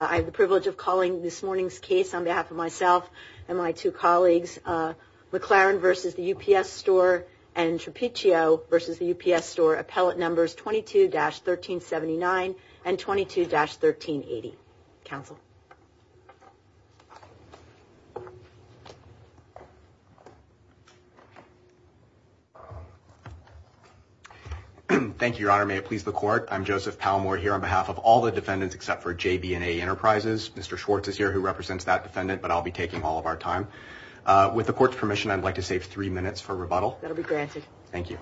I have the privilege of calling this morning's case on behalf of myself and my two colleagues, McLaren v. The UPS Store and Trapiccio v. The UPS Store, appellate numbers 22-1379 and 22-1380. Thank you, Your Honor. May it please the Court. I'm Joseph Palmore here on behalf of all the enterprises. Mr. Schwartz is here who represents that defendant but I'll be taking all of our time. With the Court's permission, I'd like to save three minutes for rebuttal. That'll be granted. Thank you.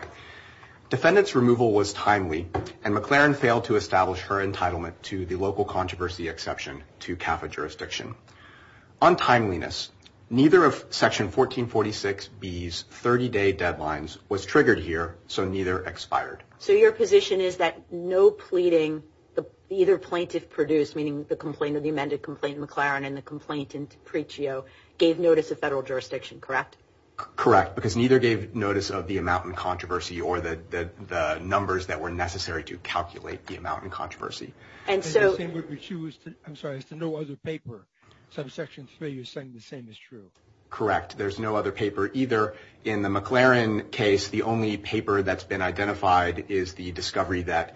Defendant's removal was timely and McLaren failed to establish her entitlement to the local controversy exception to CAFA jurisdiction. On timeliness, neither of section 1446B's 30-day deadlines was triggered here, so neither expired. So your position is that no pleading, either plaintiff produced, meaning the complaint of the amended complaint McLaren and the complaint in Trapiccio, gave notice of federal jurisdiction, correct? Correct, because neither gave notice of the amount in controversy or the numbers that were necessary to calculate the amount in controversy. And so, I'm sorry, there's no other paper. So section three is saying the same is true. Correct. There's no other paper either. In the McLaren case, the only paper that's been identified is the discovery that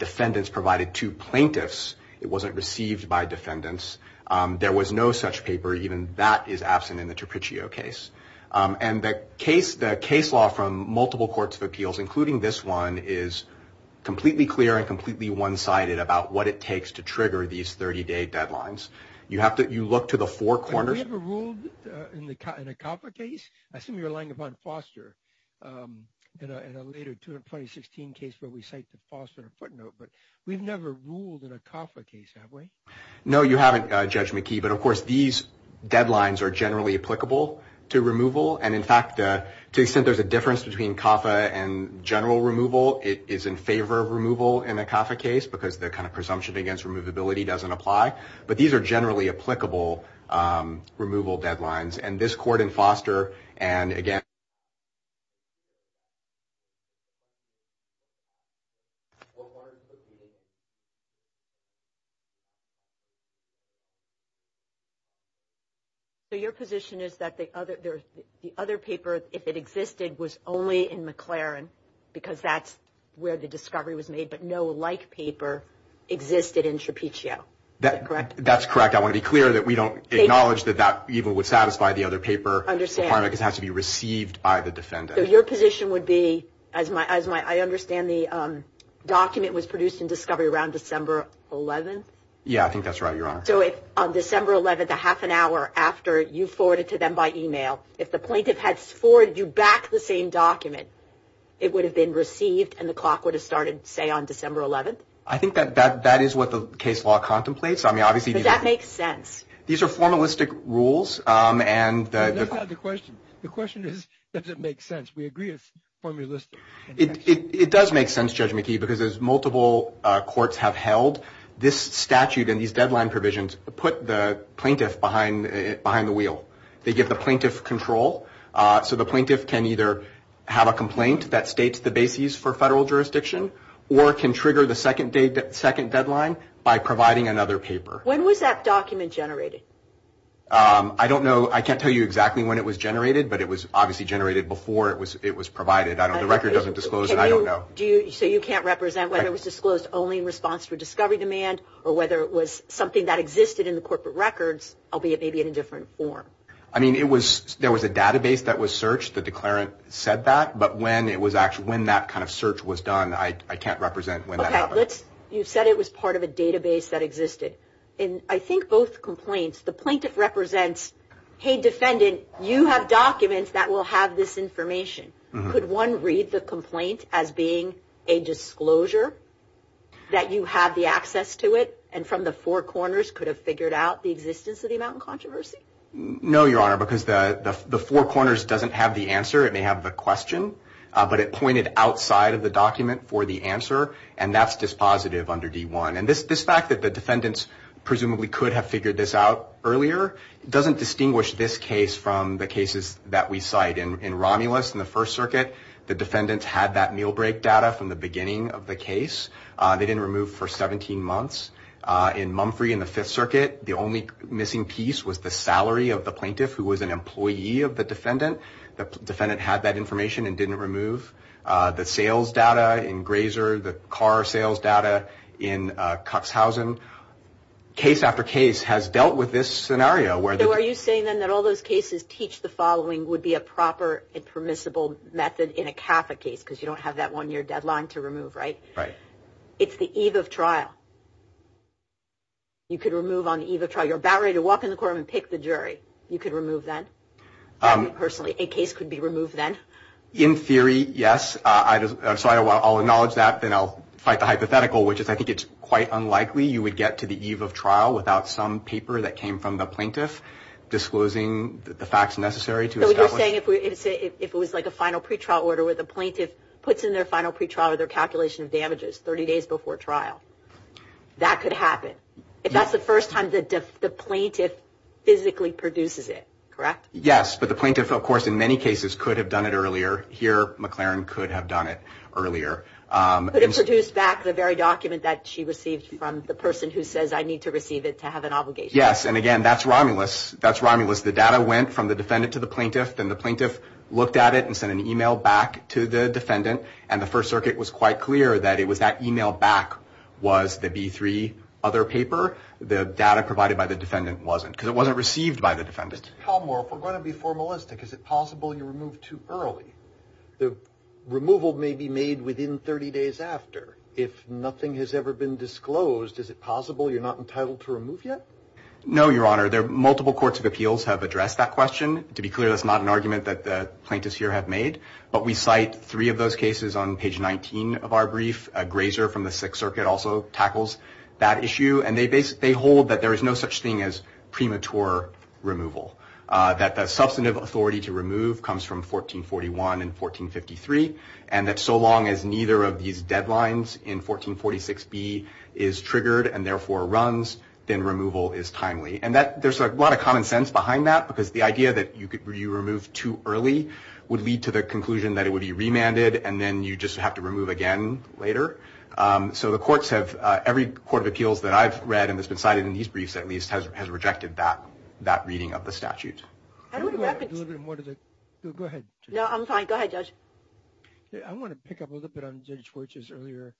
defendants provided to plaintiffs. It wasn't received by defendants. There was no such paper. Even that is absent in the Trapiccio case. And the case law from multiple courts of appeals, including this one, is completely clear and completely one-sided about what it takes to trigger these 30-day deadlines. You have to look to the four corners. We've never ruled in a CAFA case. I assume you're relying upon Foster in a later 2016 case where we cite the Foster footnote, but we've never ruled in a CAFA case, have we? No, you haven't, Judge McKee, but of course, these deadlines are generally applicable to removal. And in fact, to the extent there's a difference between CAFA and general removal, it is in favor of removal in a CAFA case because the kind of presumption against removability doesn't apply. But these are generally applicable removal deadlines. And this court in Foster, and again... So your position is that the other paper, if it existed, was only in McLaren because that's where the discovery was made, but no like paper existed in Trapiccio. Is that correct? That's correct. I want to be clear that we don't acknowledge that that even would satisfy the other paper requirement because it has to be received by the defendant. So your position would be, I understand the document was produced in discovery around December 11th? Yeah, I think that's right, Your Honor. So if on December 11th, a half an hour after you forwarded to them by email, if the plaintiff had forwarded you back the same document, it would have been received and the clock would have started, say, on December 11th? I think that that is what the case law contemplates. I mean, obviously... But that makes sense. These are formalistic rules and... That's not the question. The question is, does it make sense? We agree it's formalistic. It does make sense, Judge McKee, because as multiple courts have held, this statute and these deadline provisions put the plaintiff behind the wheel. They give the plaintiff control. So the plaintiff can either have a complaint that states the basis for federal second deadline by providing another paper. When was that document generated? I don't know. I can't tell you exactly when it was generated, but it was obviously generated before it was provided. The record doesn't disclose it. I don't know. So you can't represent whether it was disclosed only in response to a discovery demand or whether it was something that existed in the corporate records, albeit maybe in a different form? I mean, there was a database that was searched. The declarant said that. But when that kind of you've said it was part of a database that existed in, I think, both complaints, the plaintiff represents, hey, defendant, you have documents that will have this information. Could one read the complaint as being a disclosure that you have the access to it and from the four corners could have figured out the existence of the amount of controversy? No, Your Honor, because the four corners doesn't have the answer. It may have the question, but it pointed outside of the document for the answer. And that's dispositive under D-1. And this fact that the defendants presumably could have figured this out earlier doesn't distinguish this case from the cases that we cite. In Romulus in the First Circuit, the defendants had that meal break data from the beginning of the case. They didn't remove for 17 months. In Mumfrey in the Fifth Circuit, the only missing piece was the salary of the plaintiff who was an employee of the defendant. The defendant had that information and didn't remove. The sales data in Grazer, the car sales data in Cuxhausen, case after case has dealt with this scenario. So are you saying, then, that all those cases teach the following would be a proper and permissible method in a CAFA case because you don't have that one-year deadline to remove, right? Right. It's the eve of trial. You could remove on the eve of trial. You're about ready to walk in the courtroom and pick the jury. You could remove then? Personally, a case could be removed then? In theory, yes. I'll acknowledge that. Then I'll fight the hypothetical, which is I think it's quite unlikely you would get to the eve of trial without some paper that came from the plaintiff disclosing the facts necessary to establish. So you're saying if it was like a final pretrial order where the plaintiff puts in their final pretrial or their calculation of damages 30 days before trial, that could happen? If that's the first time the plaintiff physically produces it, correct? Yes, but the plaintiff, of course, in many cases could have done it earlier. Here, McLaren could have done it earlier. Could have produced back the very document that she received from the person who says, I need to receive it to have an obligation. Yes. And again, that's Romulus. That's Romulus. The data went from the defendant to the plaintiff. Then the plaintiff looked at it and sent an email back to the defendant. And the First Circuit was quite clear that it was that email back was the B-3 other paper. The data provided by the defendant wasn't because it wasn't received by the defendant. Mr. Tomlmore, if we're going to be formalistic, is it possible you removed too early? The removal may be made within 30 days after. If nothing has ever been disclosed, is it possible you're not entitled to remove yet? No, Your Honor. There are multiple courts of appeals have addressed that question. To be clear, that's not an argument that the plaintiffs here have made. But we cite three of those cases on page 19 of our brief. Grazer from the Sixth Circuit also tackles that issue. And they hold that there is no such thing as premature removal, that the substantive authority to remove comes from 1441 and 1453, and that so long as neither of these deadlines in 1446B is triggered and therefore runs, then removal is timely. And there's a lot of common sense behind that, because the idea that you remove too early would lead to the conclusion that it would be remanded, and then you just have to remove again later. So every court of appeals that I've read and that's been cited in these briefs, at least, has rejected that reading of the statute. Go ahead. No, I'm fine. Go ahead, Judge. I want to pick up a little bit on Judge Scorch's earlier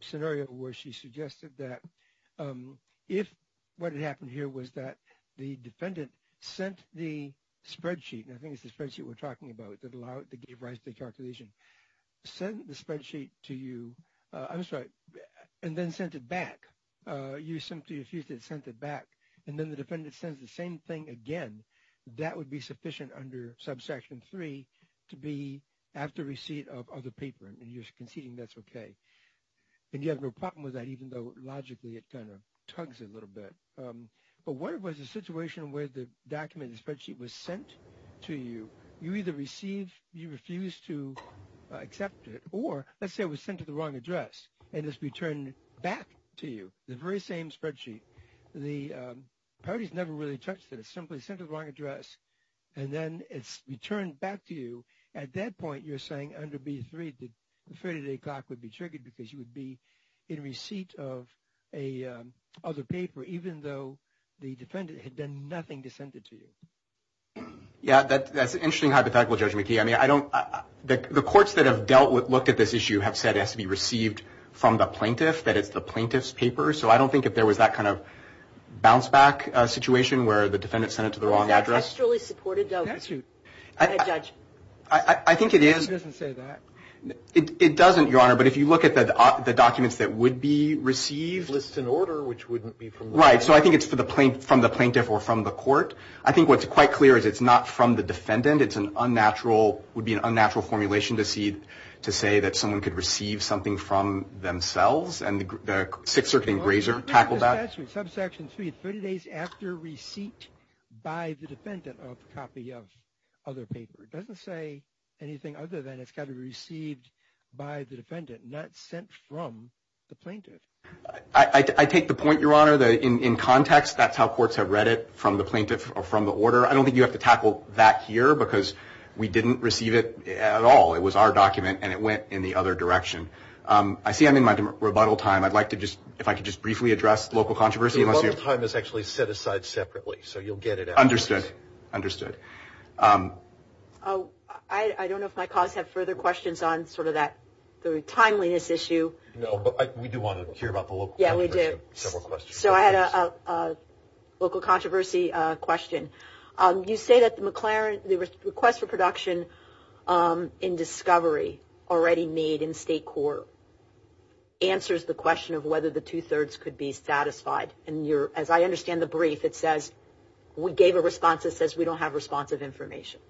scenario, where she suggested that if what had happened here was that the defendant sent the spreadsheet, and I think it's the that gave rise to the calculation, sent the spreadsheet to you, I'm sorry, and then sent it back, you simply refused to send it back, and then the defendant sends the same thing again, that would be sufficient under subsection 3 to be after receipt of the paper, and you're conceding that's okay. And you have no problem with that, even though logically it kind of tugs a little bit. But what was the situation where the document, the spreadsheet was sent to you, you either received, you refused to accept it, or let's say it was sent to the wrong address, and it's returned back to you, the very same spreadsheet. The parties never really touched it. It's simply sent to the wrong address, and then it's returned back to you. At that point, you're saying under B3, the 30-day clock would be triggered because you would be in receipt of a other paper, even though the defendant had done nothing to send it to you. Yeah, that's an interesting hypothetical, Judge McKee. I mean, I don't, the courts that have dealt with, looked at this issue, have said it has to be received from the plaintiff, that it's the plaintiff's paper. So I don't think if there was that kind of bounce back situation where the defendant sent it to the wrong address. I think it is. It doesn't, Your Honor, but if you look at the documents that would be received. List and order, which wouldn't be from the plaintiff. Right, so I think it's from the plaintiff or from the court. I think what's quite clear is it's not from the defendant. It's an unnatural, would be an unnatural formulation to see, to say that someone could receive something from themselves, and the Sixth Circuit Engrazer tackled that. Subsection 3, 30 days after receipt by the defendant of copy of other paper. It doesn't say anything other than it's got to be received by the defendant, not sent from the plaintiff. I take the point, Your Honor, that in context, that's how courts have read it, from the plaintiff or from the order. I don't think you have to tackle that here, because we didn't receive it at all. It was our document, and it went in the other direction. I see I'm in my rebuttal time. I'd like to just, if I could just briefly address local controversy. The rebuttal time is actually set aside separately, so you'll get it. Understood, understood. I don't know if my colleagues have further questions on sort of that, the timeliness issue. No, but we do want to hear Yeah, we do. So I had a local controversy question. You say that the McLaren, the request for production in discovery already made in state court answers the question of whether the two-thirds could be satisfied, and as I understand the brief, it says we gave a response that says we don't have responsive information.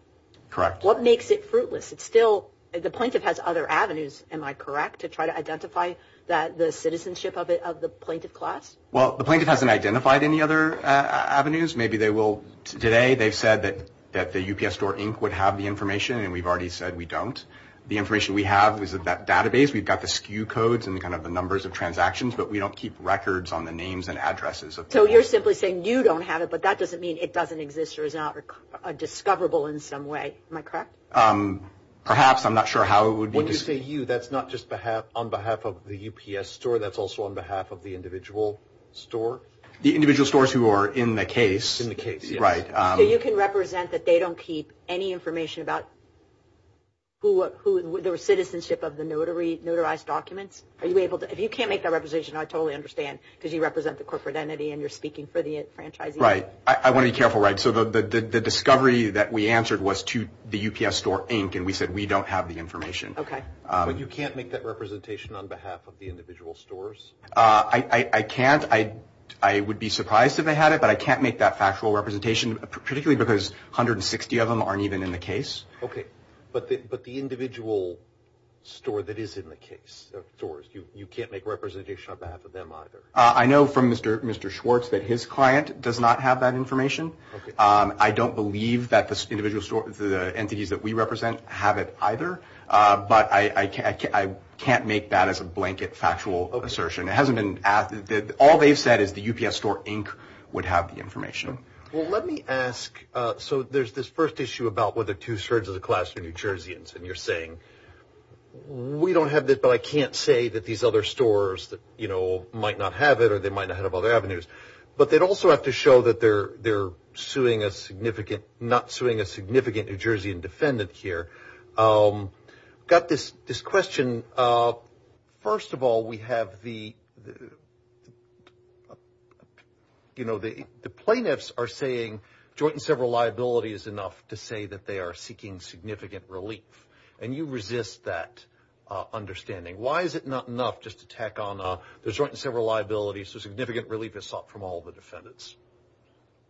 Correct. What makes it fruitless? It's still, the plaintiff has other avenues, am I correct, to try to identify the citizenship of the plaintiff class? Well, the plaintiff hasn't identified any other avenues. Maybe they will today. They've said that the UPS Store Inc. would have the information, and we've already said we don't. The information we have is that database. We've got the SKU codes and kind of the numbers of transactions, but we don't keep records on the names and addresses. So you're simply saying you don't have it, but that doesn't mean it doesn't exist or is not discoverable in some way. Am I correct? Perhaps. I'm not sure how it would be... When you say you, that's not just on behalf of the UPS Store, that's also on behalf of the individual store? The individual stores who are in the case. In the case. Right. So you can represent that they don't keep any information about their citizenship of the notarized documents? Are you able to? If you can't make that representation, I totally understand, because you represent the corporate entity and you're speaking for the franchisee. Right. I want to be careful, right? So the discovery that we answered was to the UPS Store Inc., and we said we don't have the information. Okay. But you can't make that representation on behalf of the individual stores? I can't. I would be surprised if I had it, but I can't make that factual representation, particularly because 160 of them aren't even in the case. Okay. But the individual store that is in the case of stores, you can't make representation on behalf of them either? I know from Mr. Schwartz that his client does not have that information. Okay. I don't believe that the individual store, the entities that we represent have it either, but I can't make that as a blanket factual assertion. It hasn't been asked. All they've said is the UPS Store Inc. would have the information. Well, let me ask, so there's this first issue about whether two-thirds of the class are New Jerseyans, and you're saying we don't have this, but I can't say that these other stores that, you know, might not have it or they might not have other avenues, but they'd also have to show that they're suing a significant, not suing a significant New Jersey defendant here. Got this question. First of all, we have the, you know, the plaintiffs are saying joint and several liability is enough to say that they are seeking significant relief, and you resist that understanding. Why is it not enough just to tack on the joint and several liabilities to significant relief is sought from all the defendants?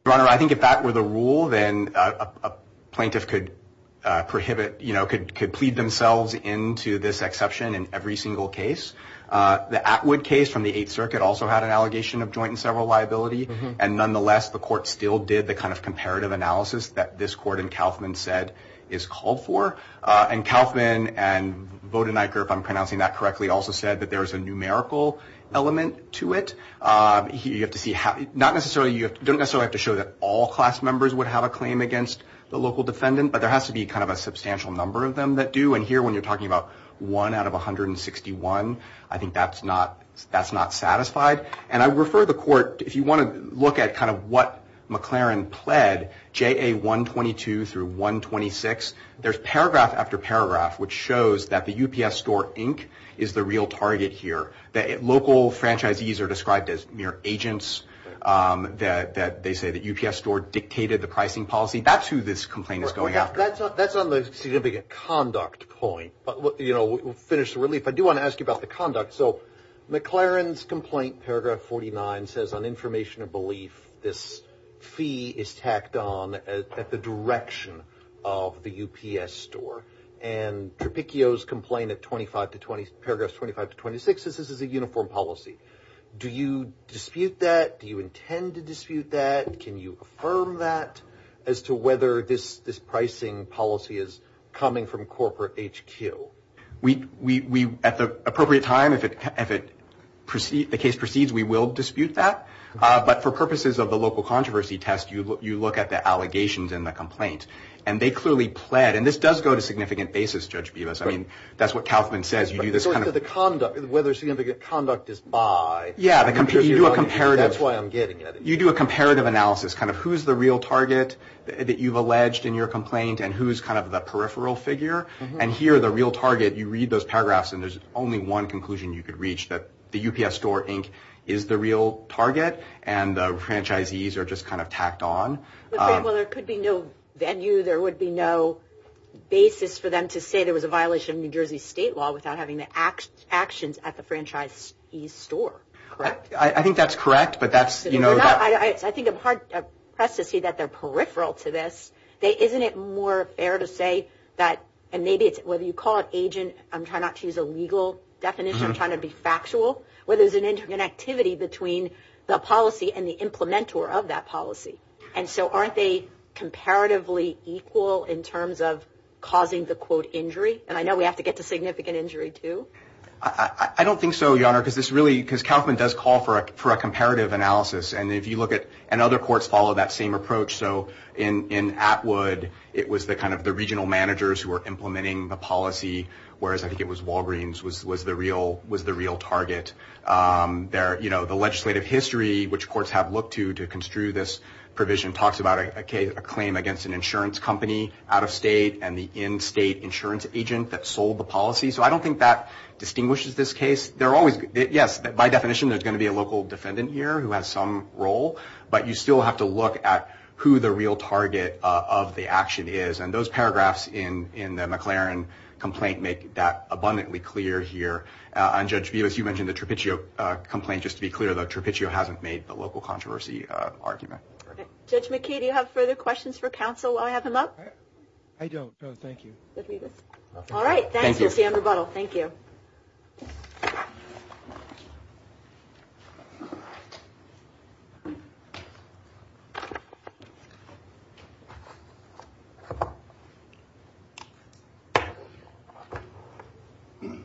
Your Honor, I think if that were the rule, then a plaintiff could prohibit, you know, could plead themselves into this exception in every single case. The Atwood case from the Eighth Circuit also had an allegation of joint and several liability, and nonetheless, the court still did the kind of comparative analysis that this court in Kauffman said is called for, and Kauffman and Vodeniker, if I'm pronouncing that correctly, also said that there is a numerical element to it. You have to see how, not necessarily, you don't necessarily have to show that all class members would have a claim against the local defendant, but there has to be kind of a substantial number of them that do, and here, when you're talking about one out of 161, I think that's not, that's not satisfied, and I refer the court, if you want to look at kind of what There's paragraph after paragraph which shows that the UPS Store Inc. is the real target here, that local franchisees are described as mere agents, that they say that UPS Store dictated the pricing policy. That's who this complaint is going after. That's on the significant conduct point, but, you know, we'll finish the relief. I do want to ask you about the conduct. So McLaren's complaint, paragraph 49, says on information of belief, this fee is tacked on at the direction of the UPS Store, and Tropicchio's complaint at 25 to 20, paragraphs 25 to 26, this is a uniform policy. Do you dispute that? Do you intend to dispute that? Can you affirm that as to whether this pricing policy is coming from corporate HQ? We, at the appropriate time, if it, if it, the case proceeds, we will dispute that, but for purposes of the local controversy test, you look at the allegations in the complaint, and they clearly pled, and this does go to significant basis, Judge Bevis. I mean, that's what Kauffman says. You do this kind of, the conduct, whether significant conduct is by, yeah, you do a comparative, that's why I'm getting it. You do a comparative analysis, kind of who's the real target that you've alleged in your complaint, and who's kind of the peripheral figure, and here, the real target, you read those paragraphs, and there's only one conclusion you target, and the franchisees are just kind of tacked on. Well, there could be no venue. There would be no basis for them to say there was a violation of New Jersey state law without having the actions at the franchisee's store, correct? I think that's correct, but that's, you know. I think I'm hard pressed to see that they're peripheral to this. They, isn't it more fair to say that, and maybe it's, whether you call it agent, I'm trying not to use a legal definition. I'm trying to be factual. Whether there's an activity between the policy and the implementer of that policy, and so aren't they comparatively equal in terms of causing the, quote, injury? And I know we have to get to significant injury, too. I don't think so, Your Honor, because this really, because Kaufman does call for a comparative analysis, and if you look at, and other courts follow that same approach, so in Atwood, it was the kind of the regional managers who were implementing the policy, whereas I think it was Walgreens was the real target. There, you know, the legislative history, which courts have looked to to construe this provision, talks about a claim against an insurance company out of state and the in-state insurance agent that sold the policy. So I don't think that distinguishes this case. They're always, yes, by definition, there's going to be a local defendant here who has some role, but you still have to look at who the real target of the action is, and those paragraphs in the McLaren complaint make that abundantly clear here. And Judge Bevis, you mentioned the Trapiccio complaint. Just to be clear, though, Trapiccio hasn't made the local controversy argument. Judge McKee, do you have further questions for counsel while I have him up? I don't. No, thank you. All right. Thanks, Mr. Andrew Buttle. Thank you.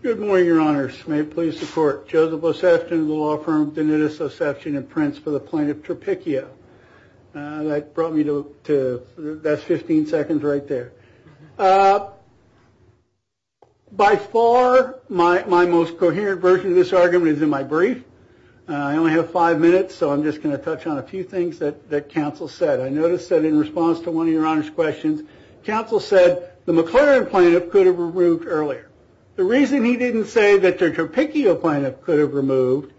Good morning, your honors. May it please the court. Joseph Osefshton of the law firm Denitus Osefshton and Prince for the plaintiff Trapiccio. That brought me to, that's 15 seconds right there. By far, my most coherent version of this argument is in my brief. I only have five minutes, so I'm just going to touch on a few things that counsel said. I noticed that in response to one of the your honors questions, counsel said the McLaren plaintiff could have removed earlier. The reason he didn't say that the Trapiccio plaintiff could have removed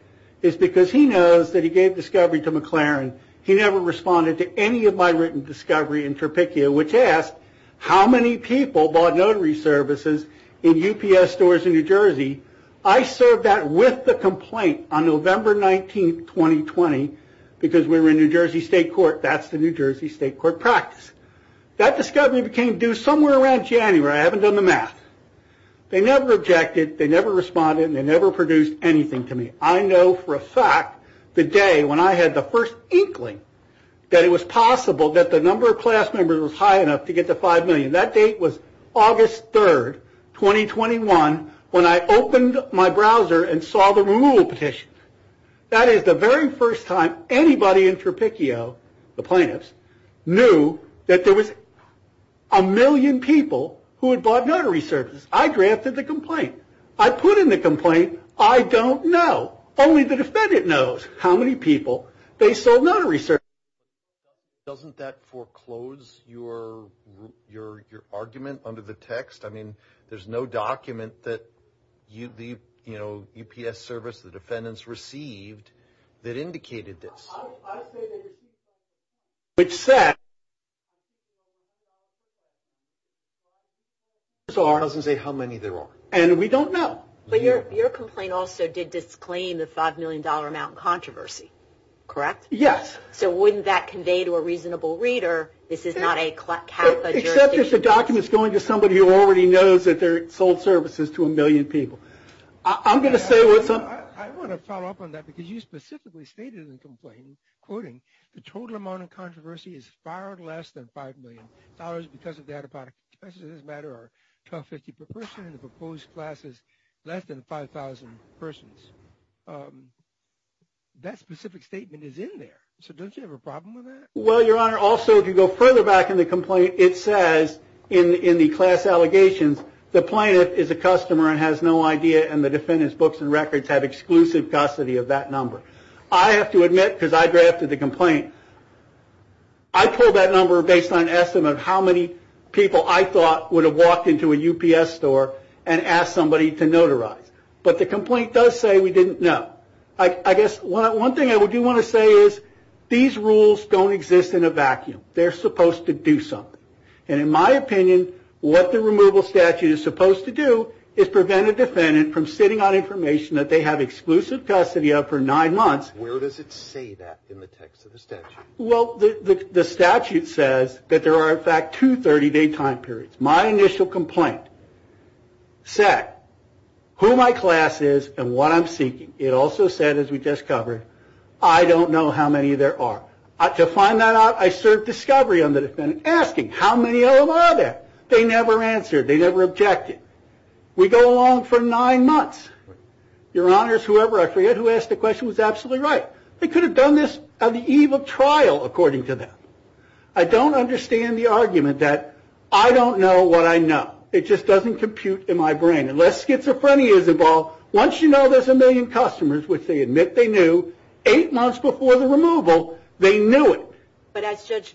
is because he knows that he gave discovery to McLaren. He never responded to any of my written discovery in Trapiccio, which asked how many people bought notary services in UPS stores in New Jersey. I served that with the complaint on November 19, 2020, because we were in New Jersey State Court. That's the New Jersey State Court practice. That discovery became due somewhere around January. I haven't done the math. They never objected, they never responded, and they never produced anything to me. I know for a fact the day when I had the first inkling that it was possible that the number of class members was high enough to get to 5 million. That date was August 3, 2021, when I opened my browser and saw the petition. That is the very first time anybody in Trapiccio, the plaintiffs, knew that there was a million people who had bought notary services. I drafted the complaint. I put in the complaint. I don't know. Only the defendant knows how many people they sold notary services to. Doesn't that foreclose your argument under the text? I mean, there's no document that the UPS service, the defendants received, that indicated this. Which said... So it doesn't say how many there are, and we don't know. But your complaint also did disclaim the $5 million amount controversy, correct? Yes. So wouldn't that convey to a reasonable reader this is not a CAFA jurisdiction? Except it's a document that's going to somebody who already knows that they're sold services to a million people. I'm going to say what's on... I want to follow up on that, because you specifically stated in the complaint, quoting, the total amount of controversy is far less than $5 million because of that about, as it doesn't matter, are 1,250 per person, and the proposed class is less than 5,000 persons. That specific statement is in there. So don't you have a problem with that? Well, your honor, also if you go further back in the complaint, it says in the class allegations, the plaintiff is a customer and has no idea, and the defendant's books and records have exclusive custody of that number. I have to admit, because I drafted the complaint, I pulled that number based on an estimate of how many people I thought would have walked into a UPS store and asked somebody to notarize. But the complaint does say we didn't know. I guess one thing I do want to say is these rules don't exist in a vacuum. They're supposed to do something. And in my opinion, what the removal statute is supposed to do is prevent a defendant from sitting on information that they have exclusive custody of for nine months. Where does it say that in the text of the statute? Well, the statute says that there are in fact two 30-day time periods. My initial complaint said who my class is and what I'm seeking. It also said, as we just covered, I don't know how many there are. To find that out, I served discovery on the defendant asking, how many of them are there? They never answered. They never objected. We go along for nine months. Your honors, whoever I forget who asked the question was absolutely right. They could have done this on the eve of trial, according to them. I don't understand the argument that I don't know what I know. It just doesn't compute in my brain. Unless schizophrenia is involved, once you know there's a million customers, which they admit they knew, eight months before the removal, they knew it.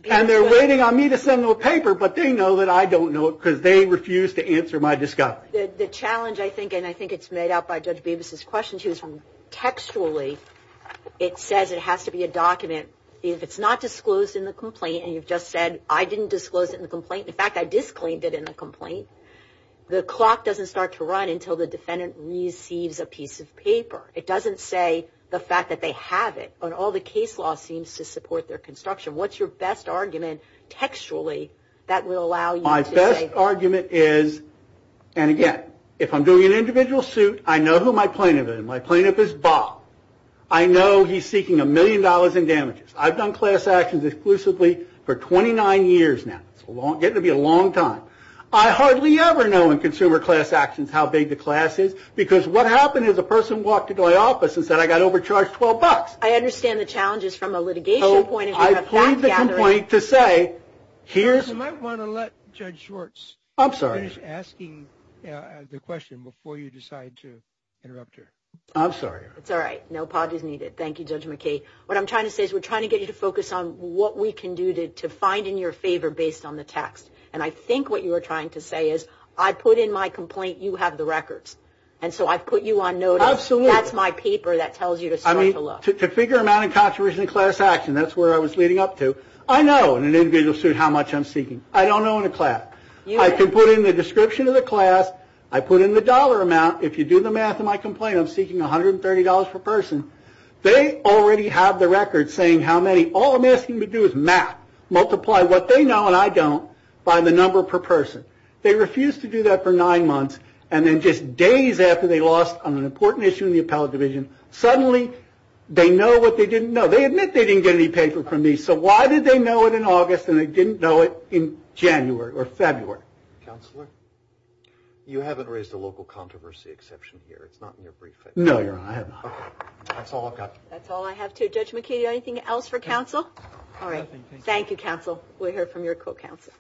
And they're waiting on me to send them a paper, but they know that I don't know it because they refused to answer my discovery. The challenge I think, and I think it's made out by Judge Beavis's question, she was from Texas. Textually, it says it has to be a document. If it's not disclosed in the complaint, and you've just said, I didn't disclose it in the complaint. In fact, I disclaimed it in the complaint. The clock doesn't start to run until the defendant receives a piece of paper. It doesn't say the fact that they have it, but all the case law seems to support their construction. What's your best argument, textually, that will allow you to say? My best argument is, and again, if I'm doing an individual suit, I know who my plaintiff is. My plaintiff is Bob. I know he's seeking a million dollars in damages. I've done class actions exclusively for 29 years now. It's getting to be a long time. I hardly ever know in consumer class actions how big the class is, because what happened is a person walked into my office and said I got overcharged 12 bucks. I understand the challenge is from a litigation point of view. I plead the complaint to say, here's... The question before you decide to interrupt her. I'm sorry. It's all right. No apologies needed. Thank you, Judge McKay. What I'm trying to say is we're trying to get you to focus on what we can do to find in your favor based on the text, and I think what you were trying to say is I put in my complaint, you have the records, and so I've put you on notice. Absolutely. That's my paper that tells you to start to look. To figure amount of contribution in class action, that's where I was leading up to. I know in an individual suit how much I'm seeking. I don't know in a class. I can put in the description of the class. I put in the dollar amount. If you do the math in my complaint, I'm seeking $130 per person. They already have the records saying how many. All I'm asking you to do is math. Multiply what they know and I don't by the number per person. They refused to do that for nine months, and then just days after they lost on an important issue in the appellate division, suddenly they know what they didn't know. They admit they didn't get any paper from me, so why did they know it in August and they didn't know it in January or February? Counselor, you haven't raised a local controversy exception here. It's not in your briefcase. No, you're right. I have not. That's all I've got. That's all I have too. Judge McKinney, anything else for counsel? All right. Thank you, counsel. We'll hear from your co-counsel.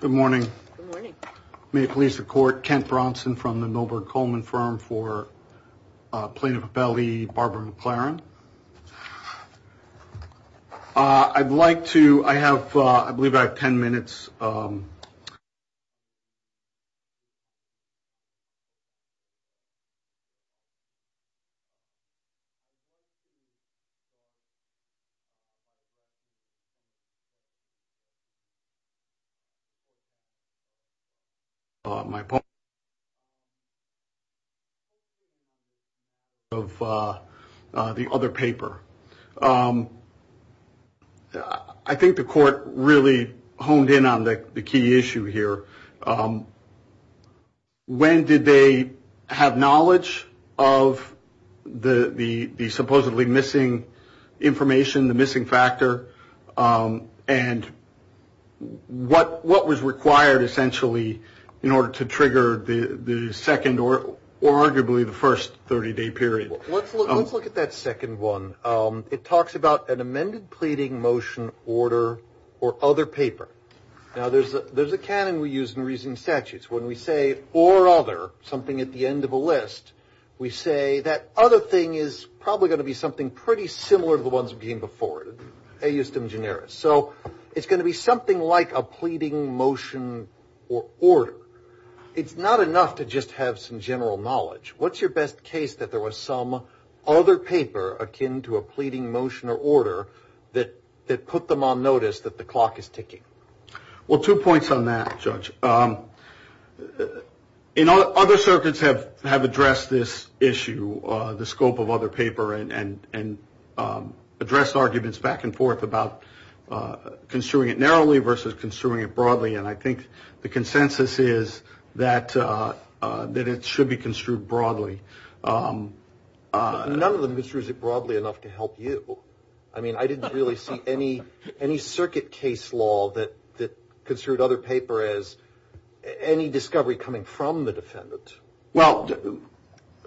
Good morning. Good morning. May it please the court, Kent Bronson from the Milberg Coleman firm for Plaintiff Appellee, Barbara McLaren. I'd like to, I have, I believe I have 10 minutes. I think the court really honed in on the key issue here. When did they have knowledge of the supposedly missing information, the missing factor? And what was required essentially in order to trigger the second or arguably the first 30-day period? Let's look at that second one. It talks about an amended pleading motion order or other paper. Now, there's a canon we use in reasoning statutes. When we say or other, something at the end of a list, we say that other thing is probably going to be something pretty similar to the ones that So it's going to be something like a pleading motion or order. It's not enough to just have some general knowledge. What's your best case that there was some other paper akin to a pleading motion or order that put them on notice that the clock is ticking? Well, two points on that, Judge. Other circuits have addressed this issue, the scope of other paper and addressed arguments back and forth about construing it narrowly versus construing it broadly. And I think the consensus is that it should be construed broadly. None of them construes it broadly enough to help you. I mean, I didn't really see any circuit case law that construed other paper as any discovery coming from the defendant. Well,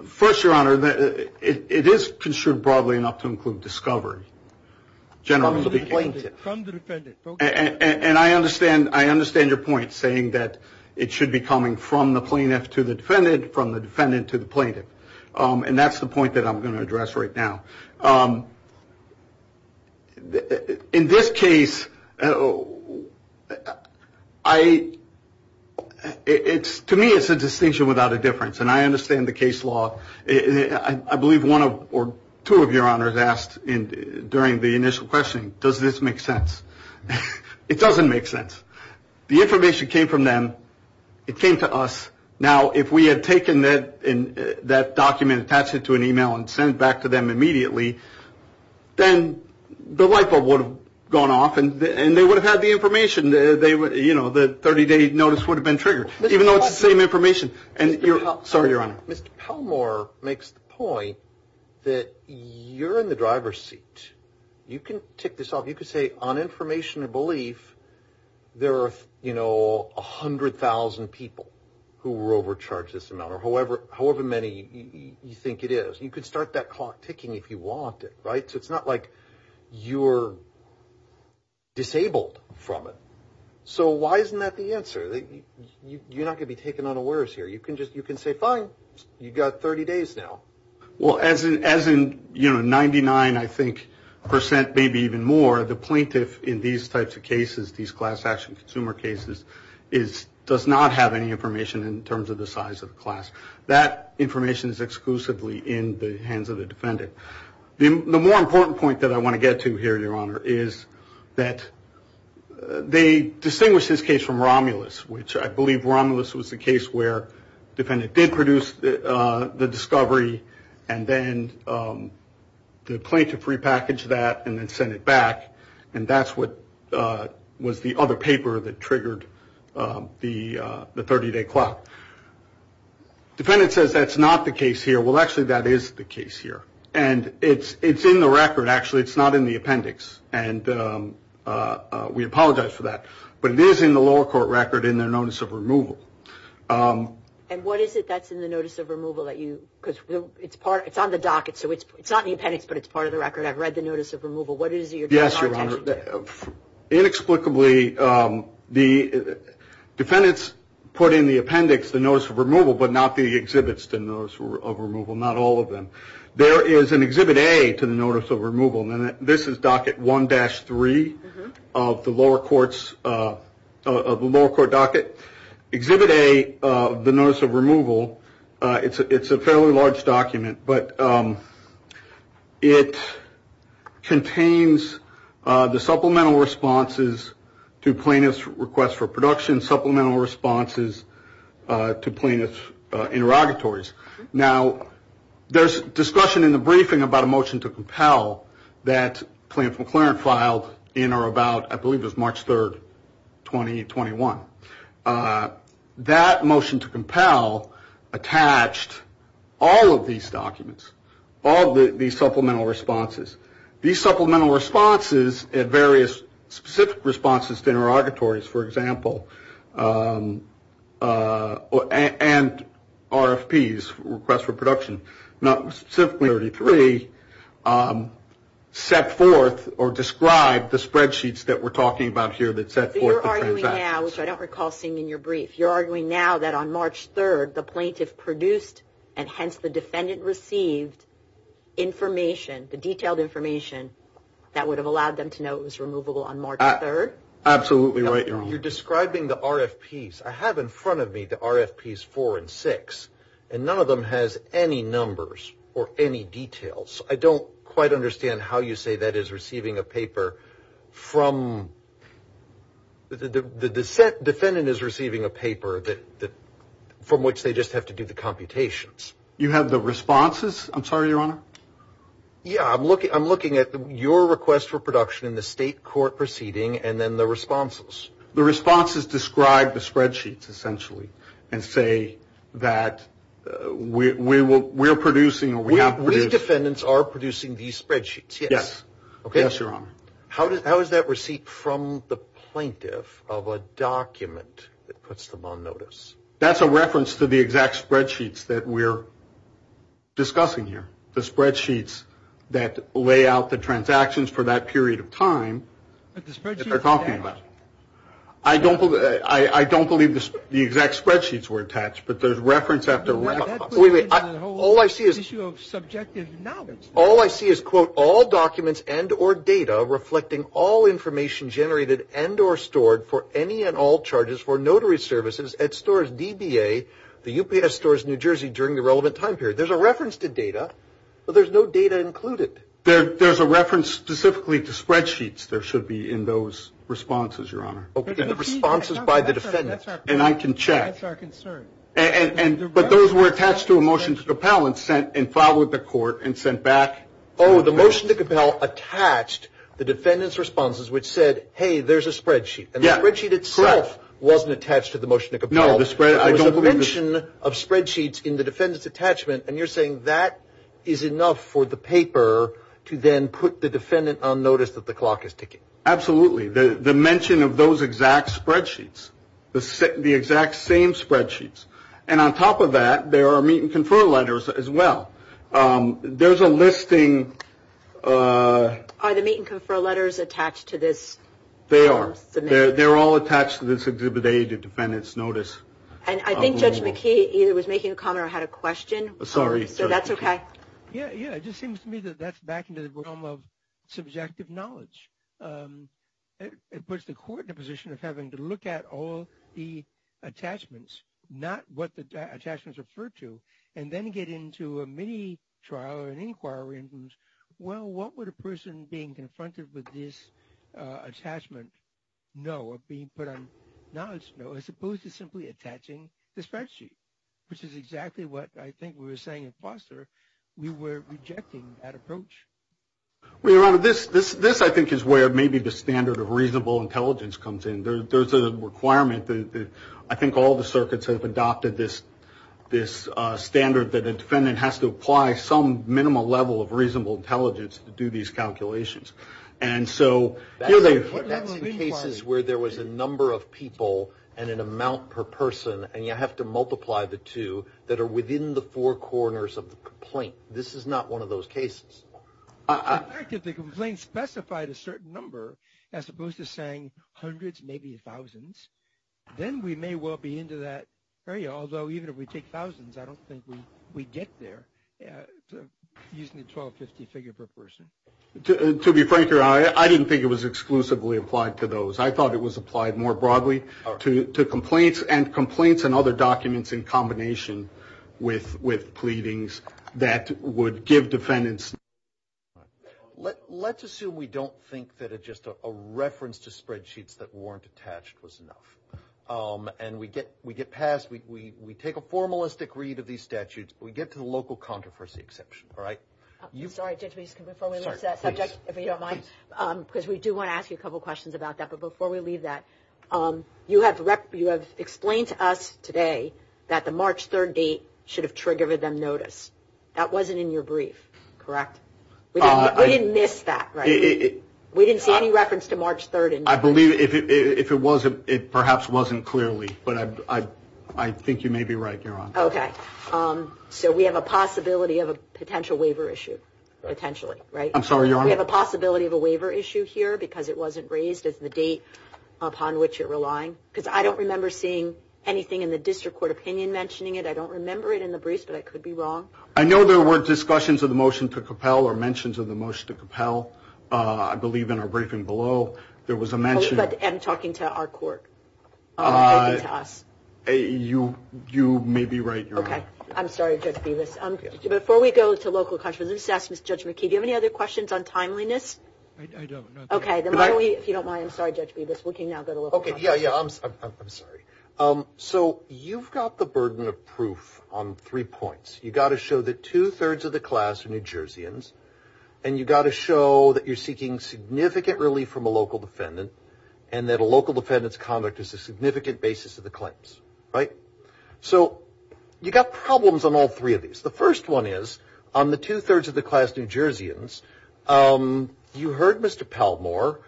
first, Your Honor, it is construed broadly enough to include discovery. And I understand your point saying that it should be coming from the plaintiff to the defendant, from the defendant to the plaintiff. And that's the point that I'm going to address right now. In this case, to me, it's a distinction without a difference. And I understand the case law. I believe one or two of your honors asked during the initial questioning, does this make sense? It doesn't make sense. The information came from them. It came to us. Now, if we had taken that document, attached it to an email and sent it back to them immediately, then the light bulb would have gone off and they would have had the information. The 30-day notice would have been triggered, even though it's the same information. Sorry, Your Honor. Mr. Pelmore makes the point that you're in the driver's seat. You can tick this off. You could say, on information and belief, there are 100,000 people who were overcharged this amount or however many you think it is. You could start that clock ticking if you wanted, right? So it's not like you're disabled from it. So why isn't that the answer? You're not going to be taken unawares here. You can say, fine, you've got 30 days now. Well, as in 99, I think, percent, maybe even more, the plaintiff in these types of cases, these class action consumer cases, does not have any information in terms of the size of the class. That information is exclusively in the hands of the defendant. The more important point that I want to get to here, Your Honor, is that they distinguish this case from Romulus, which I believe Romulus was the case where defendant did produce the discovery and then the plaintiff repackaged that and then sent it back. And that's what was the other paper that triggered the 30-day clock. Defendant says that's not the case here. Well, actually, that is the case here. And it's in the record. Actually, it's not in the appendix. And we apologize for that. But it is in the lower court record in their notice of removal. And what is it that's in the notice of removal that you... Because it's on the docket. So it's not the appendix, but it's part of the record. I've read the notice of removal. What is it you're talking about? Yes, Your Honor. Inexplicably, the defendants put in the appendix the notice of removal, but not the exhibits to notice of removal, not all of them. There is an exhibit A to the notice of removal. And this is docket 1-3 of the lower court docket. Exhibit A, the notice of removal, it's a fairly large document. But it contains the supplemental responses to plaintiff's request for production, supplemental responses to plaintiff's interrogatories. Now, there's discussion in the briefing about a motion to compel that Plaintiff McClaren filed in or about, I believe it was March 3rd, 2021. That motion to compel attached all of these documents, all the supplemental responses. These supplemental responses at various specific responses to interrogatories, for example, and RFPs, requests for production. Not specifically 33, set forth or describe the spreadsheets that we're talking about here that set forth the transactions. So you're arguing now, which I don't recall seeing in your brief, you're arguing now that on March 3rd, the plaintiff produced and hence the defendant received information, the detailed information that would have allowed them to know it was removable on March 3rd? Absolutely right, Your Honor. You're describing the RFPs. I have in front of me the RFPs 4 and 6, and none of them has any numbers or any details. I don't quite understand how you say that is receiving a paper from... The defendant is receiving a paper from which they just have to do the computations. You have the responses? I'm sorry, Your Honor. Yeah, I'm looking at your request for production in the state court proceeding and then the responses. The responses describe the spreadsheets, essentially, and say that we're producing or we have produced... We defendants are producing these spreadsheets, yes. Yes, yes, Your Honor. How is that receipt from the plaintiff of a document that puts them on notice? That's a reference to the exact spreadsheets that we're discussing here. The spreadsheets that lay out the transactions for that period of time. The spreadsheets that they're talking about. I don't believe the exact spreadsheets were attached, but there's reference after reference. Wait, wait. All I see is... The issue of subjective knowledge. All I see is, quote, all documents and or data reflecting all information generated and or stored for any and all charges for notary services at stores DBA, the UPS stores in New Jersey during the relevant time period. There's a reference specifically to spreadsheets. There should be in those responses, Your Honor. In the responses by the defendants. And I can check. That's our concern. But those were attached to a motion to compel and followed the court and sent back... Oh, the motion to compel attached the defendants' responses, which said, hey, there's a spreadsheet. And the spreadsheet itself wasn't attached to the motion to compel. No, the spread... There was a mention of spreadsheets in the defendants' attachment, and you're saying that is enough for the paper to then put the defendant on notice that the clock is ticking. Absolutely. The mention of those exact spreadsheets, the exact same spreadsheets. And on top of that, there are meet and confer letters as well. There's a listing... Are the meet and confer letters attached to this? They are. They're all attached to this Exhibit A, the defendant's notice. And I think Judge McKee either was making a comment or had a question. Sorry. So that's okay. Yeah, yeah. It just seems to me that that's back into the realm of subjective knowledge. It puts the court in a position of having to look at all the attachments, not what the attachments refer to, and then get into a mini trial or an inquiry in who's... Well, what would a person being confronted with this attachment know, or being put on knowledge know, as opposed to simply attaching the spreadsheet, which is exactly what I think we were saying at Foster, we were rejecting that approach. Well, Your Honor, this, I think, is where maybe the standard of reasonable intelligence comes in. There's a requirement that I think all the circuits have adopted this standard that a defendant has to apply some minimal level of reasonable intelligence to do these calculations. And so here they've... That's in cases where there was a number of people and an amount per person, and you have to multiply the two that are within the four corners of the complaint. This is not one of those cases. In fact, if the complaint specified a certain number, as opposed to saying hundreds, maybe thousands, then we may well be into that area. Although even if we take thousands, I don't think we get there using the 1250 figure per person. To be frank, Your Honor, I didn't think it was exclusively applied to those. I thought it was applied more broadly to complaints, and complaints and other documents in combination with pleadings that would give defendants... Let's assume we don't think that just a reference to spreadsheets that weren't attached was enough. And we get passed, we take a formalistic read of these statutes, but we get to the local controversy exception, all right? Sorry, Judge, before we leave that subject, if you don't mind, because we do want to ask you a couple questions about that. But before we leave that, you have explained to us today that the March 3rd date should have triggered them notice. That wasn't in your brief, correct? We didn't miss that, right? We didn't see any reference to March 3rd? I believe if it was, it perhaps wasn't clearly. But I think you may be right, Your Honor. Okay, so we have a possibility of a potential waiver issue, potentially, right? I'm sorry, Your Honor? We have a possibility of a waiver issue here because it wasn't raised as the date upon which you're relying. Because I don't remember seeing anything in the district court opinion mentioning it. I don't remember it in the briefs, but I could be wrong. I know there were discussions of the motion to compel or mentions of the motion to compel. I believe in our briefing below, there was a mention. But I'm talking to our court, not to us. You may be right, Your Honor. Okay, I'm sorry, Judge Bevis. Before we go to local controversy, let's ask Judge McKee, do you have any other questions on timeliness? I don't, no. If you don't mind, I'm sorry, Judge Bevis, we can now go to local controversy. Yeah, yeah, I'm sorry. So you've got the burden of proof on three points. You've got to show that two-thirds of the class are New Jerseyans. And you've got to show that you're seeking significant relief from a local defendant. And that a local defendant's conduct is a significant basis of the claims, right? So you've got problems on all three of these. The first one is, on the two-thirds of the class New Jerseyans, um, you heard Mr. Palmore.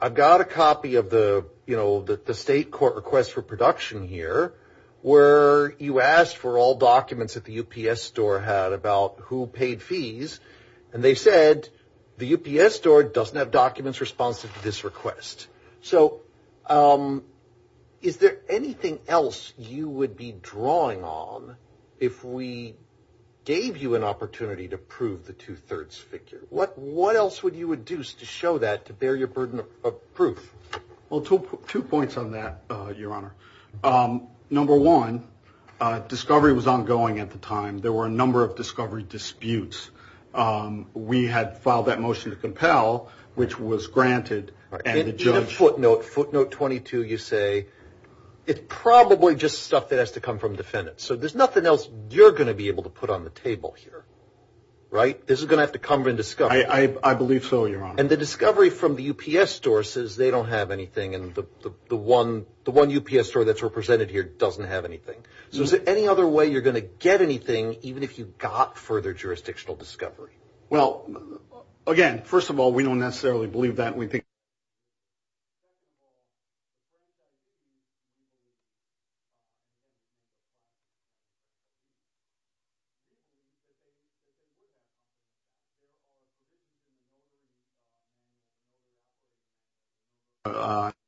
I've got a copy of the, you know, the state court request for production here, where you asked for all documents that the UPS store had about who paid fees. And they said the UPS store doesn't have documents responsive to this request. So, um, is there anything else you would be drawing on if we gave you an opportunity to prove the two-thirds figure? What else would you induce to show that, to bear your burden of proof? Well, two points on that, Your Honor. Number one, discovery was ongoing at the time. There were a number of discovery disputes. We had filed that motion to compel, which was granted, and the judge... In a footnote, footnote 22, you say, it's probably just stuff that has to come from defendants. So there's nothing else you're going to be able to put on the table here, right? This is going to have to come from discovery. I believe so, Your Honor. And the discovery from the UPS store says they don't have anything, and the one, the one UPS store that's represented here doesn't have anything. So is there any other way you're going to get anything, even if you got further jurisdictional discovery? Well, again, first of all, we don't necessarily believe that. We don't necessarily believe that. We don't necessarily believe that. We don't necessarily believe that. We don't necessarily believe that. We don't necessarily believe that.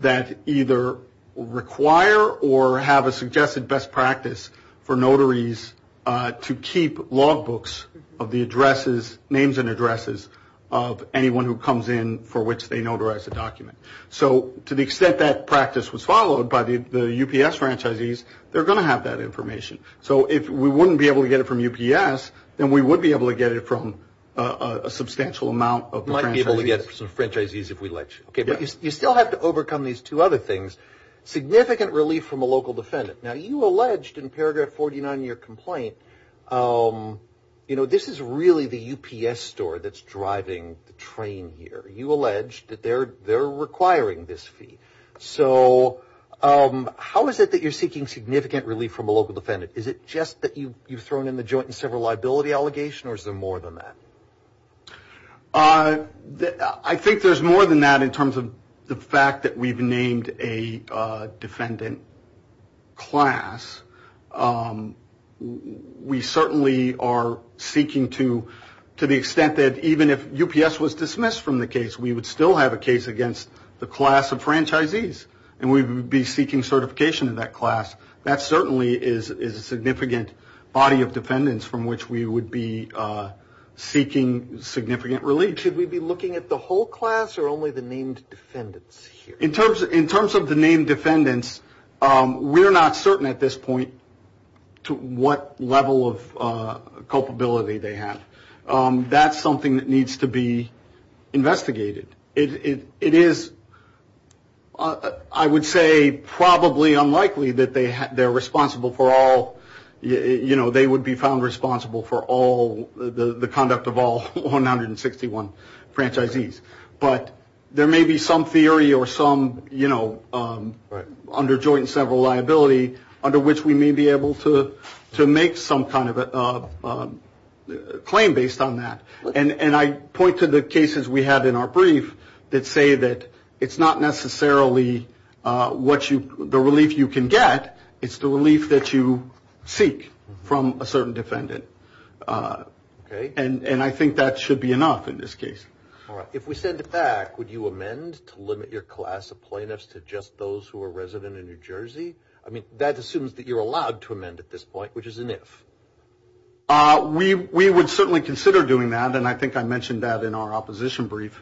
That either require or have a suggested best practice for notaries to keep logbooks of the addresses, names and addresses of anyone who comes in for which they notarize a document. So to the extent that practice was followed by the UPS franchisees, they're going to have that information. So if we wouldn't be able to get it from UPS, then we would be able to get it from a substantial amount of the franchisees. Might be able to get it from the franchisees if we let you. Okay, but you still have to overcome these two other things. Significant relief from a local defendant. Now, you alleged in paragraph 49 in your complaint, you know, this is really the UPS store that's driving the train here. You alleged that they're requiring this fee. So how is it that you're seeking significant relief from a local defendant? Is it just that you've thrown in the joint and several liability allegation or is there more than that? I think there's more than that in terms of the fact that we've named a defendant class. We certainly are seeking to the extent that even if UPS was dismissed from the case, we would still have a case against the class of franchisees and we would be seeking certification in that class. That certainly is a significant body of defendants from which we would be seeking significant relief. Should we be looking at the whole class or only the named defendants here? In terms of the named defendants, we're not certain at this point to what level of culpability they have. That's something that needs to be investigated. It is, I would say, probably unlikely that they would be found responsible for the conduct of all 161 franchisees. But there may be some theory or some under joint and several liability under which we may be able to make some kind of a claim based on that. And I point to the cases we have in our brief that say that it's not necessarily the relief you can get, it's the relief that you seek from a certain defendant. And I think that should be enough in this case. All right, if we send it back, would you amend to limit your class of plaintiffs to just those who are resident in New Jersey? I mean, that assumes that you're allowed to amend at this point, which is an if. We would certainly consider doing that. And I think I mentioned that in our opposition brief.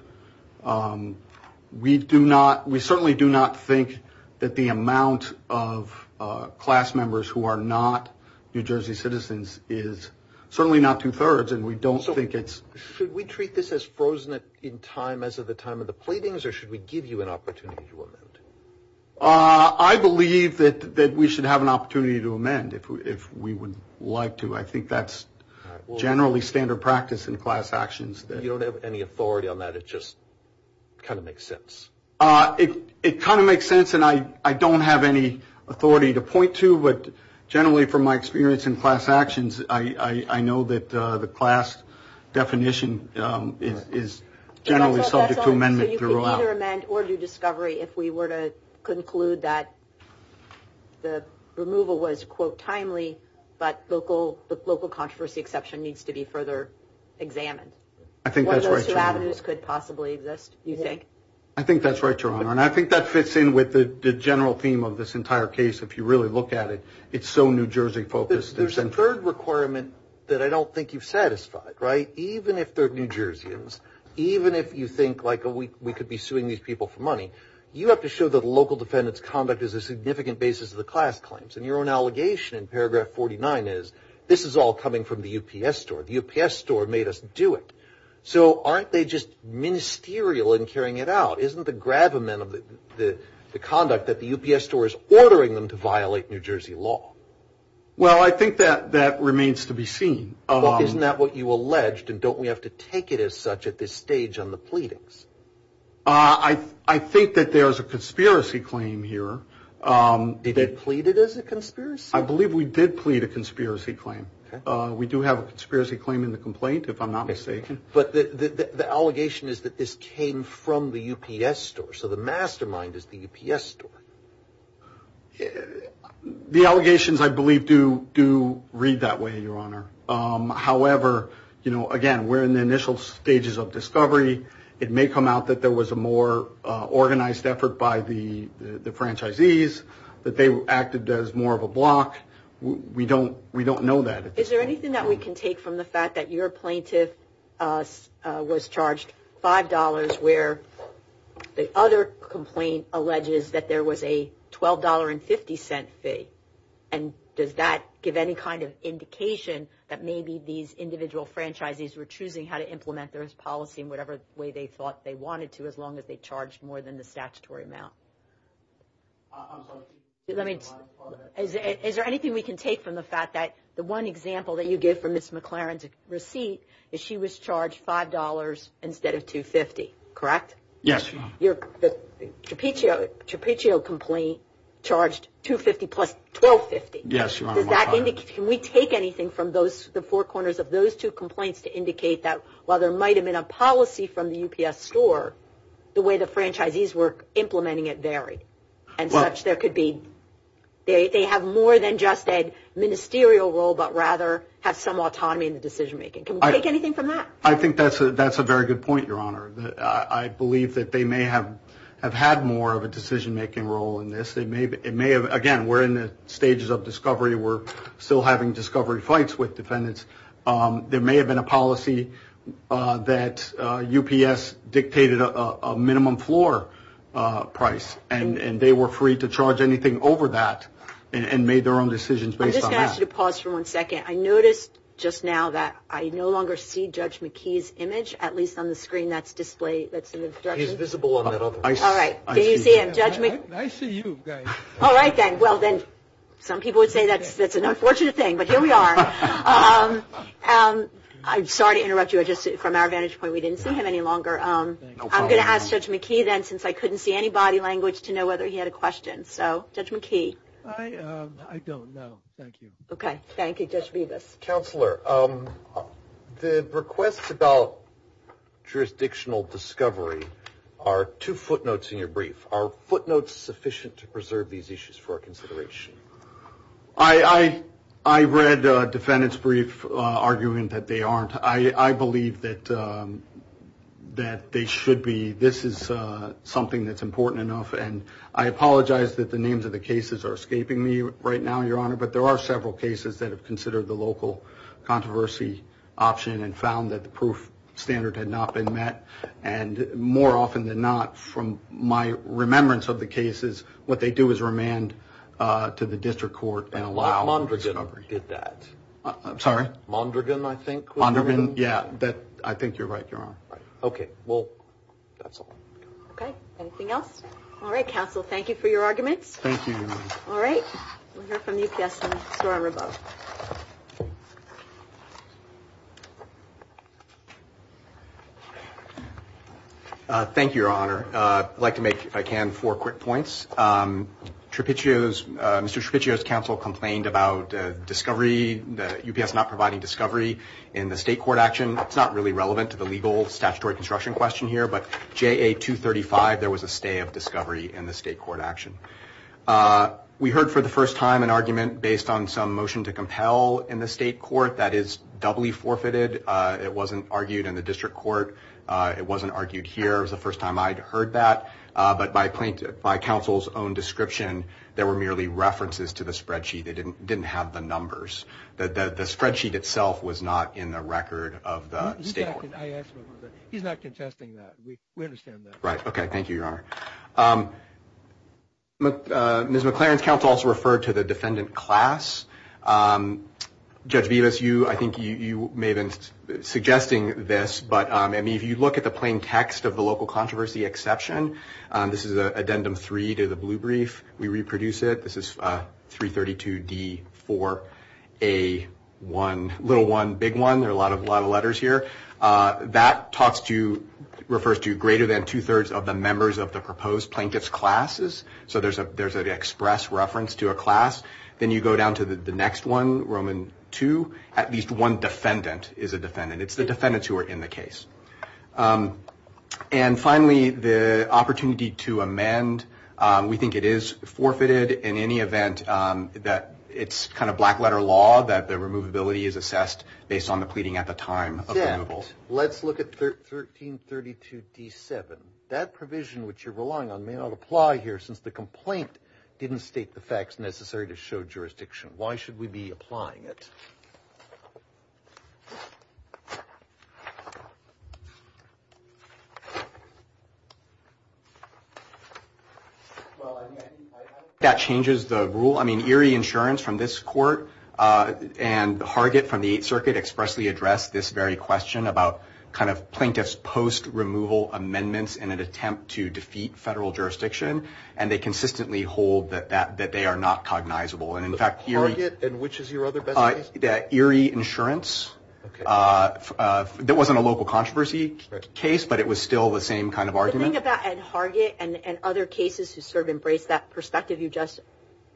We certainly do not think that the amount of class members who are not New Jersey citizens is certainly not two thirds. And we don't think it's... Should we treat this as frozen in time as of the time of the pleadings or should we give you an opportunity to amend? I believe that we should have an opportunity to amend if we would like to. I think that's generally standard practice in class actions. You don't have any authority on that. It just kind of makes sense. It kind of makes sense and I don't have any authority to point to, but generally from my experience in class actions, I know that the class definition is generally subject to amendment. So you can either amend or do discovery if we were to conclude that the removal was, quote, timely, but the local controversy exception needs to be further examined. I think that's right, Your Honor. One of those two avenues could possibly exist, you think? I think that's right, Your Honor. And I think that fits in with the general theme of this entire case, if you really look at it. It's so New Jersey focused. There's a third requirement that I don't think you've satisfied, right? Even if they're New Jerseyans, these people for money, you have to show that local defendants' conduct is a significant basis of the class claims. And your own allegation in paragraph 49 is, this is all coming from the UPS store. The UPS store made us do it. So aren't they just ministerial in carrying it out? Isn't the gravamen of the conduct that the UPS store is ordering them to violate New Jersey law? Well, I think that remains to be seen. Isn't that what you alleged? And don't we have to take it as such at this stage on the pleadings? I think that there's a conspiracy claim here Did they plead it as a conspiracy? I believe we did plead a conspiracy claim. We do have a conspiracy claim in the complaint, if I'm not mistaken. But the allegation is that this came from the UPS store. So the mastermind is the UPS store. The allegations, I believe, do read that way, Your Honor. However, again, we're in the initial stages of discovery. It may come out that there was a more organized effort by the franchisees, that they acted as more of a block. We don't know that. Is there anything that we can take from the fact that your plaintiff was charged $5 where the other complaint alleges that there was a $12.50 fee? And does that give any kind of indication that maybe these individual franchisees were choosing how to implement their policy in whatever way they thought they wanted to, as long as they charged more than the statutory amount? Is there anything we can take from the fact that the one example that you give from Ms. McLaren's receipt is she was charged $5 instead of $2.50, correct? Yes, Your Honor. Your trapezoid complaint charged $2.50 plus $12.50. Yes, Your Honor. Can we take anything from the four corners of those two complaints to indicate that while there might have been a policy from the UPS store, the way the franchisees were implementing it varied, and such there could be... They have more than just a ministerial role, but rather have some autonomy in the decision-making. Can we take anything from that? I think that's a very good point, Your Honor. I believe that they may have had more of a decision-making role in this. Again, we're in the stages of discovery. We're still having discovery fights with defendants. There may have been a policy that UPS dictated a minimum floor price, and they were free to charge anything over that and made their own decisions based on that. I'm just going to ask you to pause for one second. I noticed just now that I no longer see Judge McKee's image, at least on the screen that's in the production. He's visible in the middle. All right. Can you see him, Judge McKee? I see you, guys. All right, then. Well, then some people would say that's an unfortunate thing, but here we are. I'm sorry to interrupt you. From our vantage point, we didn't see him any longer. I'm going to ask Judge McKee then, since I couldn't see any body language, to know whether he had a question. So, Judge McKee. I don't know. Thank you. Okay. Thank you, Judge Vivas. Counselor, the requests about jurisdictional discovery are two footnotes in your brief. Are footnotes sufficient to preserve these issues for our consideration? I read a defendant's brief arguing that they aren't. I believe that they should be. This is something that's important enough. And I apologize that the names of the cases are escaping me right now, Your Honor, but there are several cases that have considered the local controversy option and found that the proof standard had not been met. And more often than not, from my remembrance of the cases, what they do is remand to the district court and allow discovery. Mondragon did that. I'm sorry? Mondragon, I think. Mondragon? Yeah. I think you're right, Your Honor. Okay. Well, that's all. Okay. Anything else? All right, counsel. Thank you for your arguments. Thank you, Your Honor. All right. We'll hear from UPS and Storm Riveau. Thank you, Your Honor. I'd like to make, if I can, four quick points. Trapiccio's, Mr. Trapiccio's counsel complained about discovery, UPS not providing discovery in the state court action. It's not really relevant to the legal statutory construction question here, but JA 235, there was a stay of discovery in the state court action. We heard for the first time an argument based on some motion to compel in the state court that is doubly forfeited. It wasn't argued in the district court. It wasn't argued here. It was the first time I'd heard that. But by counsel's own description, there were merely references to the spreadsheet. They didn't have the numbers. The spreadsheet itself was not in the record of the state. He's not contesting that. We understand that. Right. Okay. Thank you, Your Honor. Ms. McLaren's counsel also referred to the defendant class. Judge Vivas, I think you may have been suggesting this, but if you look at the plain text of the local controversy exception, this is addendum three to the blue brief. We reproduce it. This is 332D4A1, little one, big one. There are a lot of letters here. That refers to greater than 2 3rds of the members of the proposed plaintiff's classes. So there's an express reference to a class. Then you go down to the next one, Roman 2. At least one defendant is a defendant. It's the defendants who are in the case. And finally, the opportunity to amend. We think it is forfeited in any event that it's kind of black letter law that the removability is assessed based on the pleading at the time of removal. Let's look at 1332D7. That provision which you're relying on may not apply here since the complaint didn't state the facts necessary to show jurisdiction. Why should we be applying it? Well, I think that changes the rule. I mean, Erie Insurance from this court and Harget from the 8th Circuit expressly addressed this very question about kind of plaintiff's post-removal amendments in an attempt to defeat federal jurisdiction. And they consistently hold that they are not cognizable. And in fact, Erie- Harget? And which is your other best case? Yeah, Erie Insurance. OK. That wasn't a local controversy case, but it was still the same kind of argument. The thing about Harget and other cases who sort of embrace that perspective you just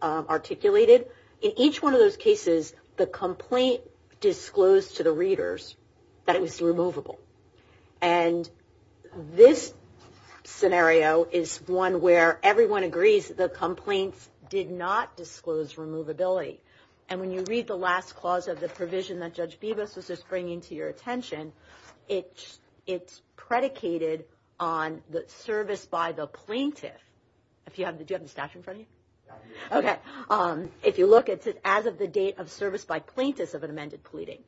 articulated, in each one of those cases, the complaint disclosed to the readers that it was removable. And this scenario is one where everyone agrees the complaints did not disclose removability. And when you read the last clause of the provision that Judge Bibas was just bringing to your attention, it's predicated on the service by the plaintiff. Do you have the stash in front of you? OK. If you look, it's as of the date of service by plaintiffs of an amended pleading.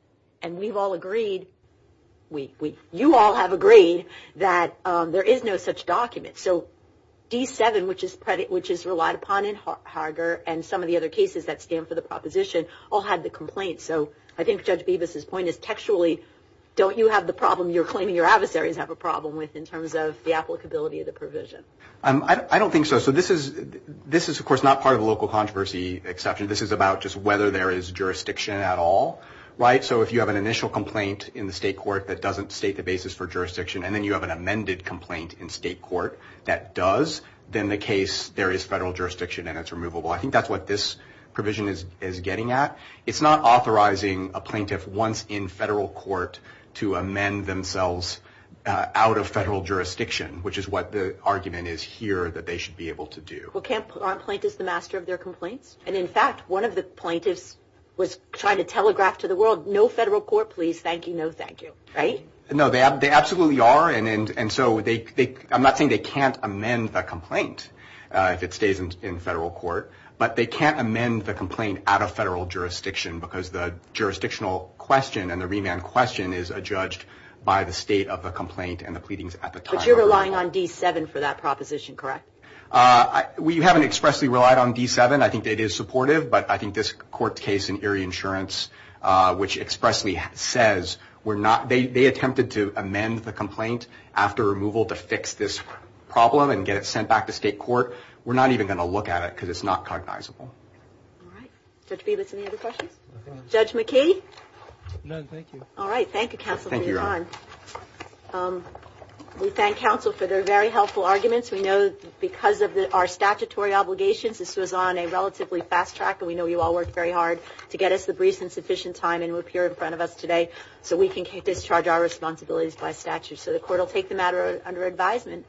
And we've all agreed, you all have agreed that there is no such document. So D7, which is relied upon in Harget and some of the other cases that stand for the proposition, all had the complaint. So I think Judge Bibas's point is textually, don't you have the problem you're claiming your adversaries have a problem with in terms of the applicability of the provision? I don't think so. So this is, of course, not part of a local controversy exception. This is about just whether there is jurisdiction at all, right? So if you have an initial complaint in the state court that doesn't state the basis for jurisdiction, and then you have an amended complaint in state court that does, then the case, there is federal jurisdiction and it's removable. I think that's what this provision is getting at. It's not authorizing a plaintiff once in federal court to amend themselves out of federal jurisdiction, which is what the argument is here that they should be able to do. Well, aren't plaintiffs the master of their complaints? And in fact, one of the plaintiffs was trying to telegraph to the world, no federal court please, thank you, no thank you, right? No, they absolutely are. And so I'm not saying they can't amend the complaint if it stays in federal court. But they can't amend the complaint out of federal jurisdiction because the jurisdictional question and the remand question is judged by the state of the complaint and the pleadings at the time. But you're relying on D7 for that proposition, correct? We haven't expressly relied on D7. I think it is supportive. But I think this court case in Erie Insurance, which expressly says we're not, they attempted to amend the complaint after removal to fix this problem and get it sent back to state court. We're not even going to look at it because it's not cognizable. All right. Judge Beavis, any other questions? Judge McKee? No, thank you. All right. Thank you, counsel, for your time. We thank counsel for their very helpful arguments. We know because of our statutory obligations, this was on a relatively fast track. And we know you all worked very hard to get us the brief and sufficient time and appear in front of us today so we can discharge our responsibilities by statute. So the court will take the matter under advisement.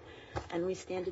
And we stand adjourned.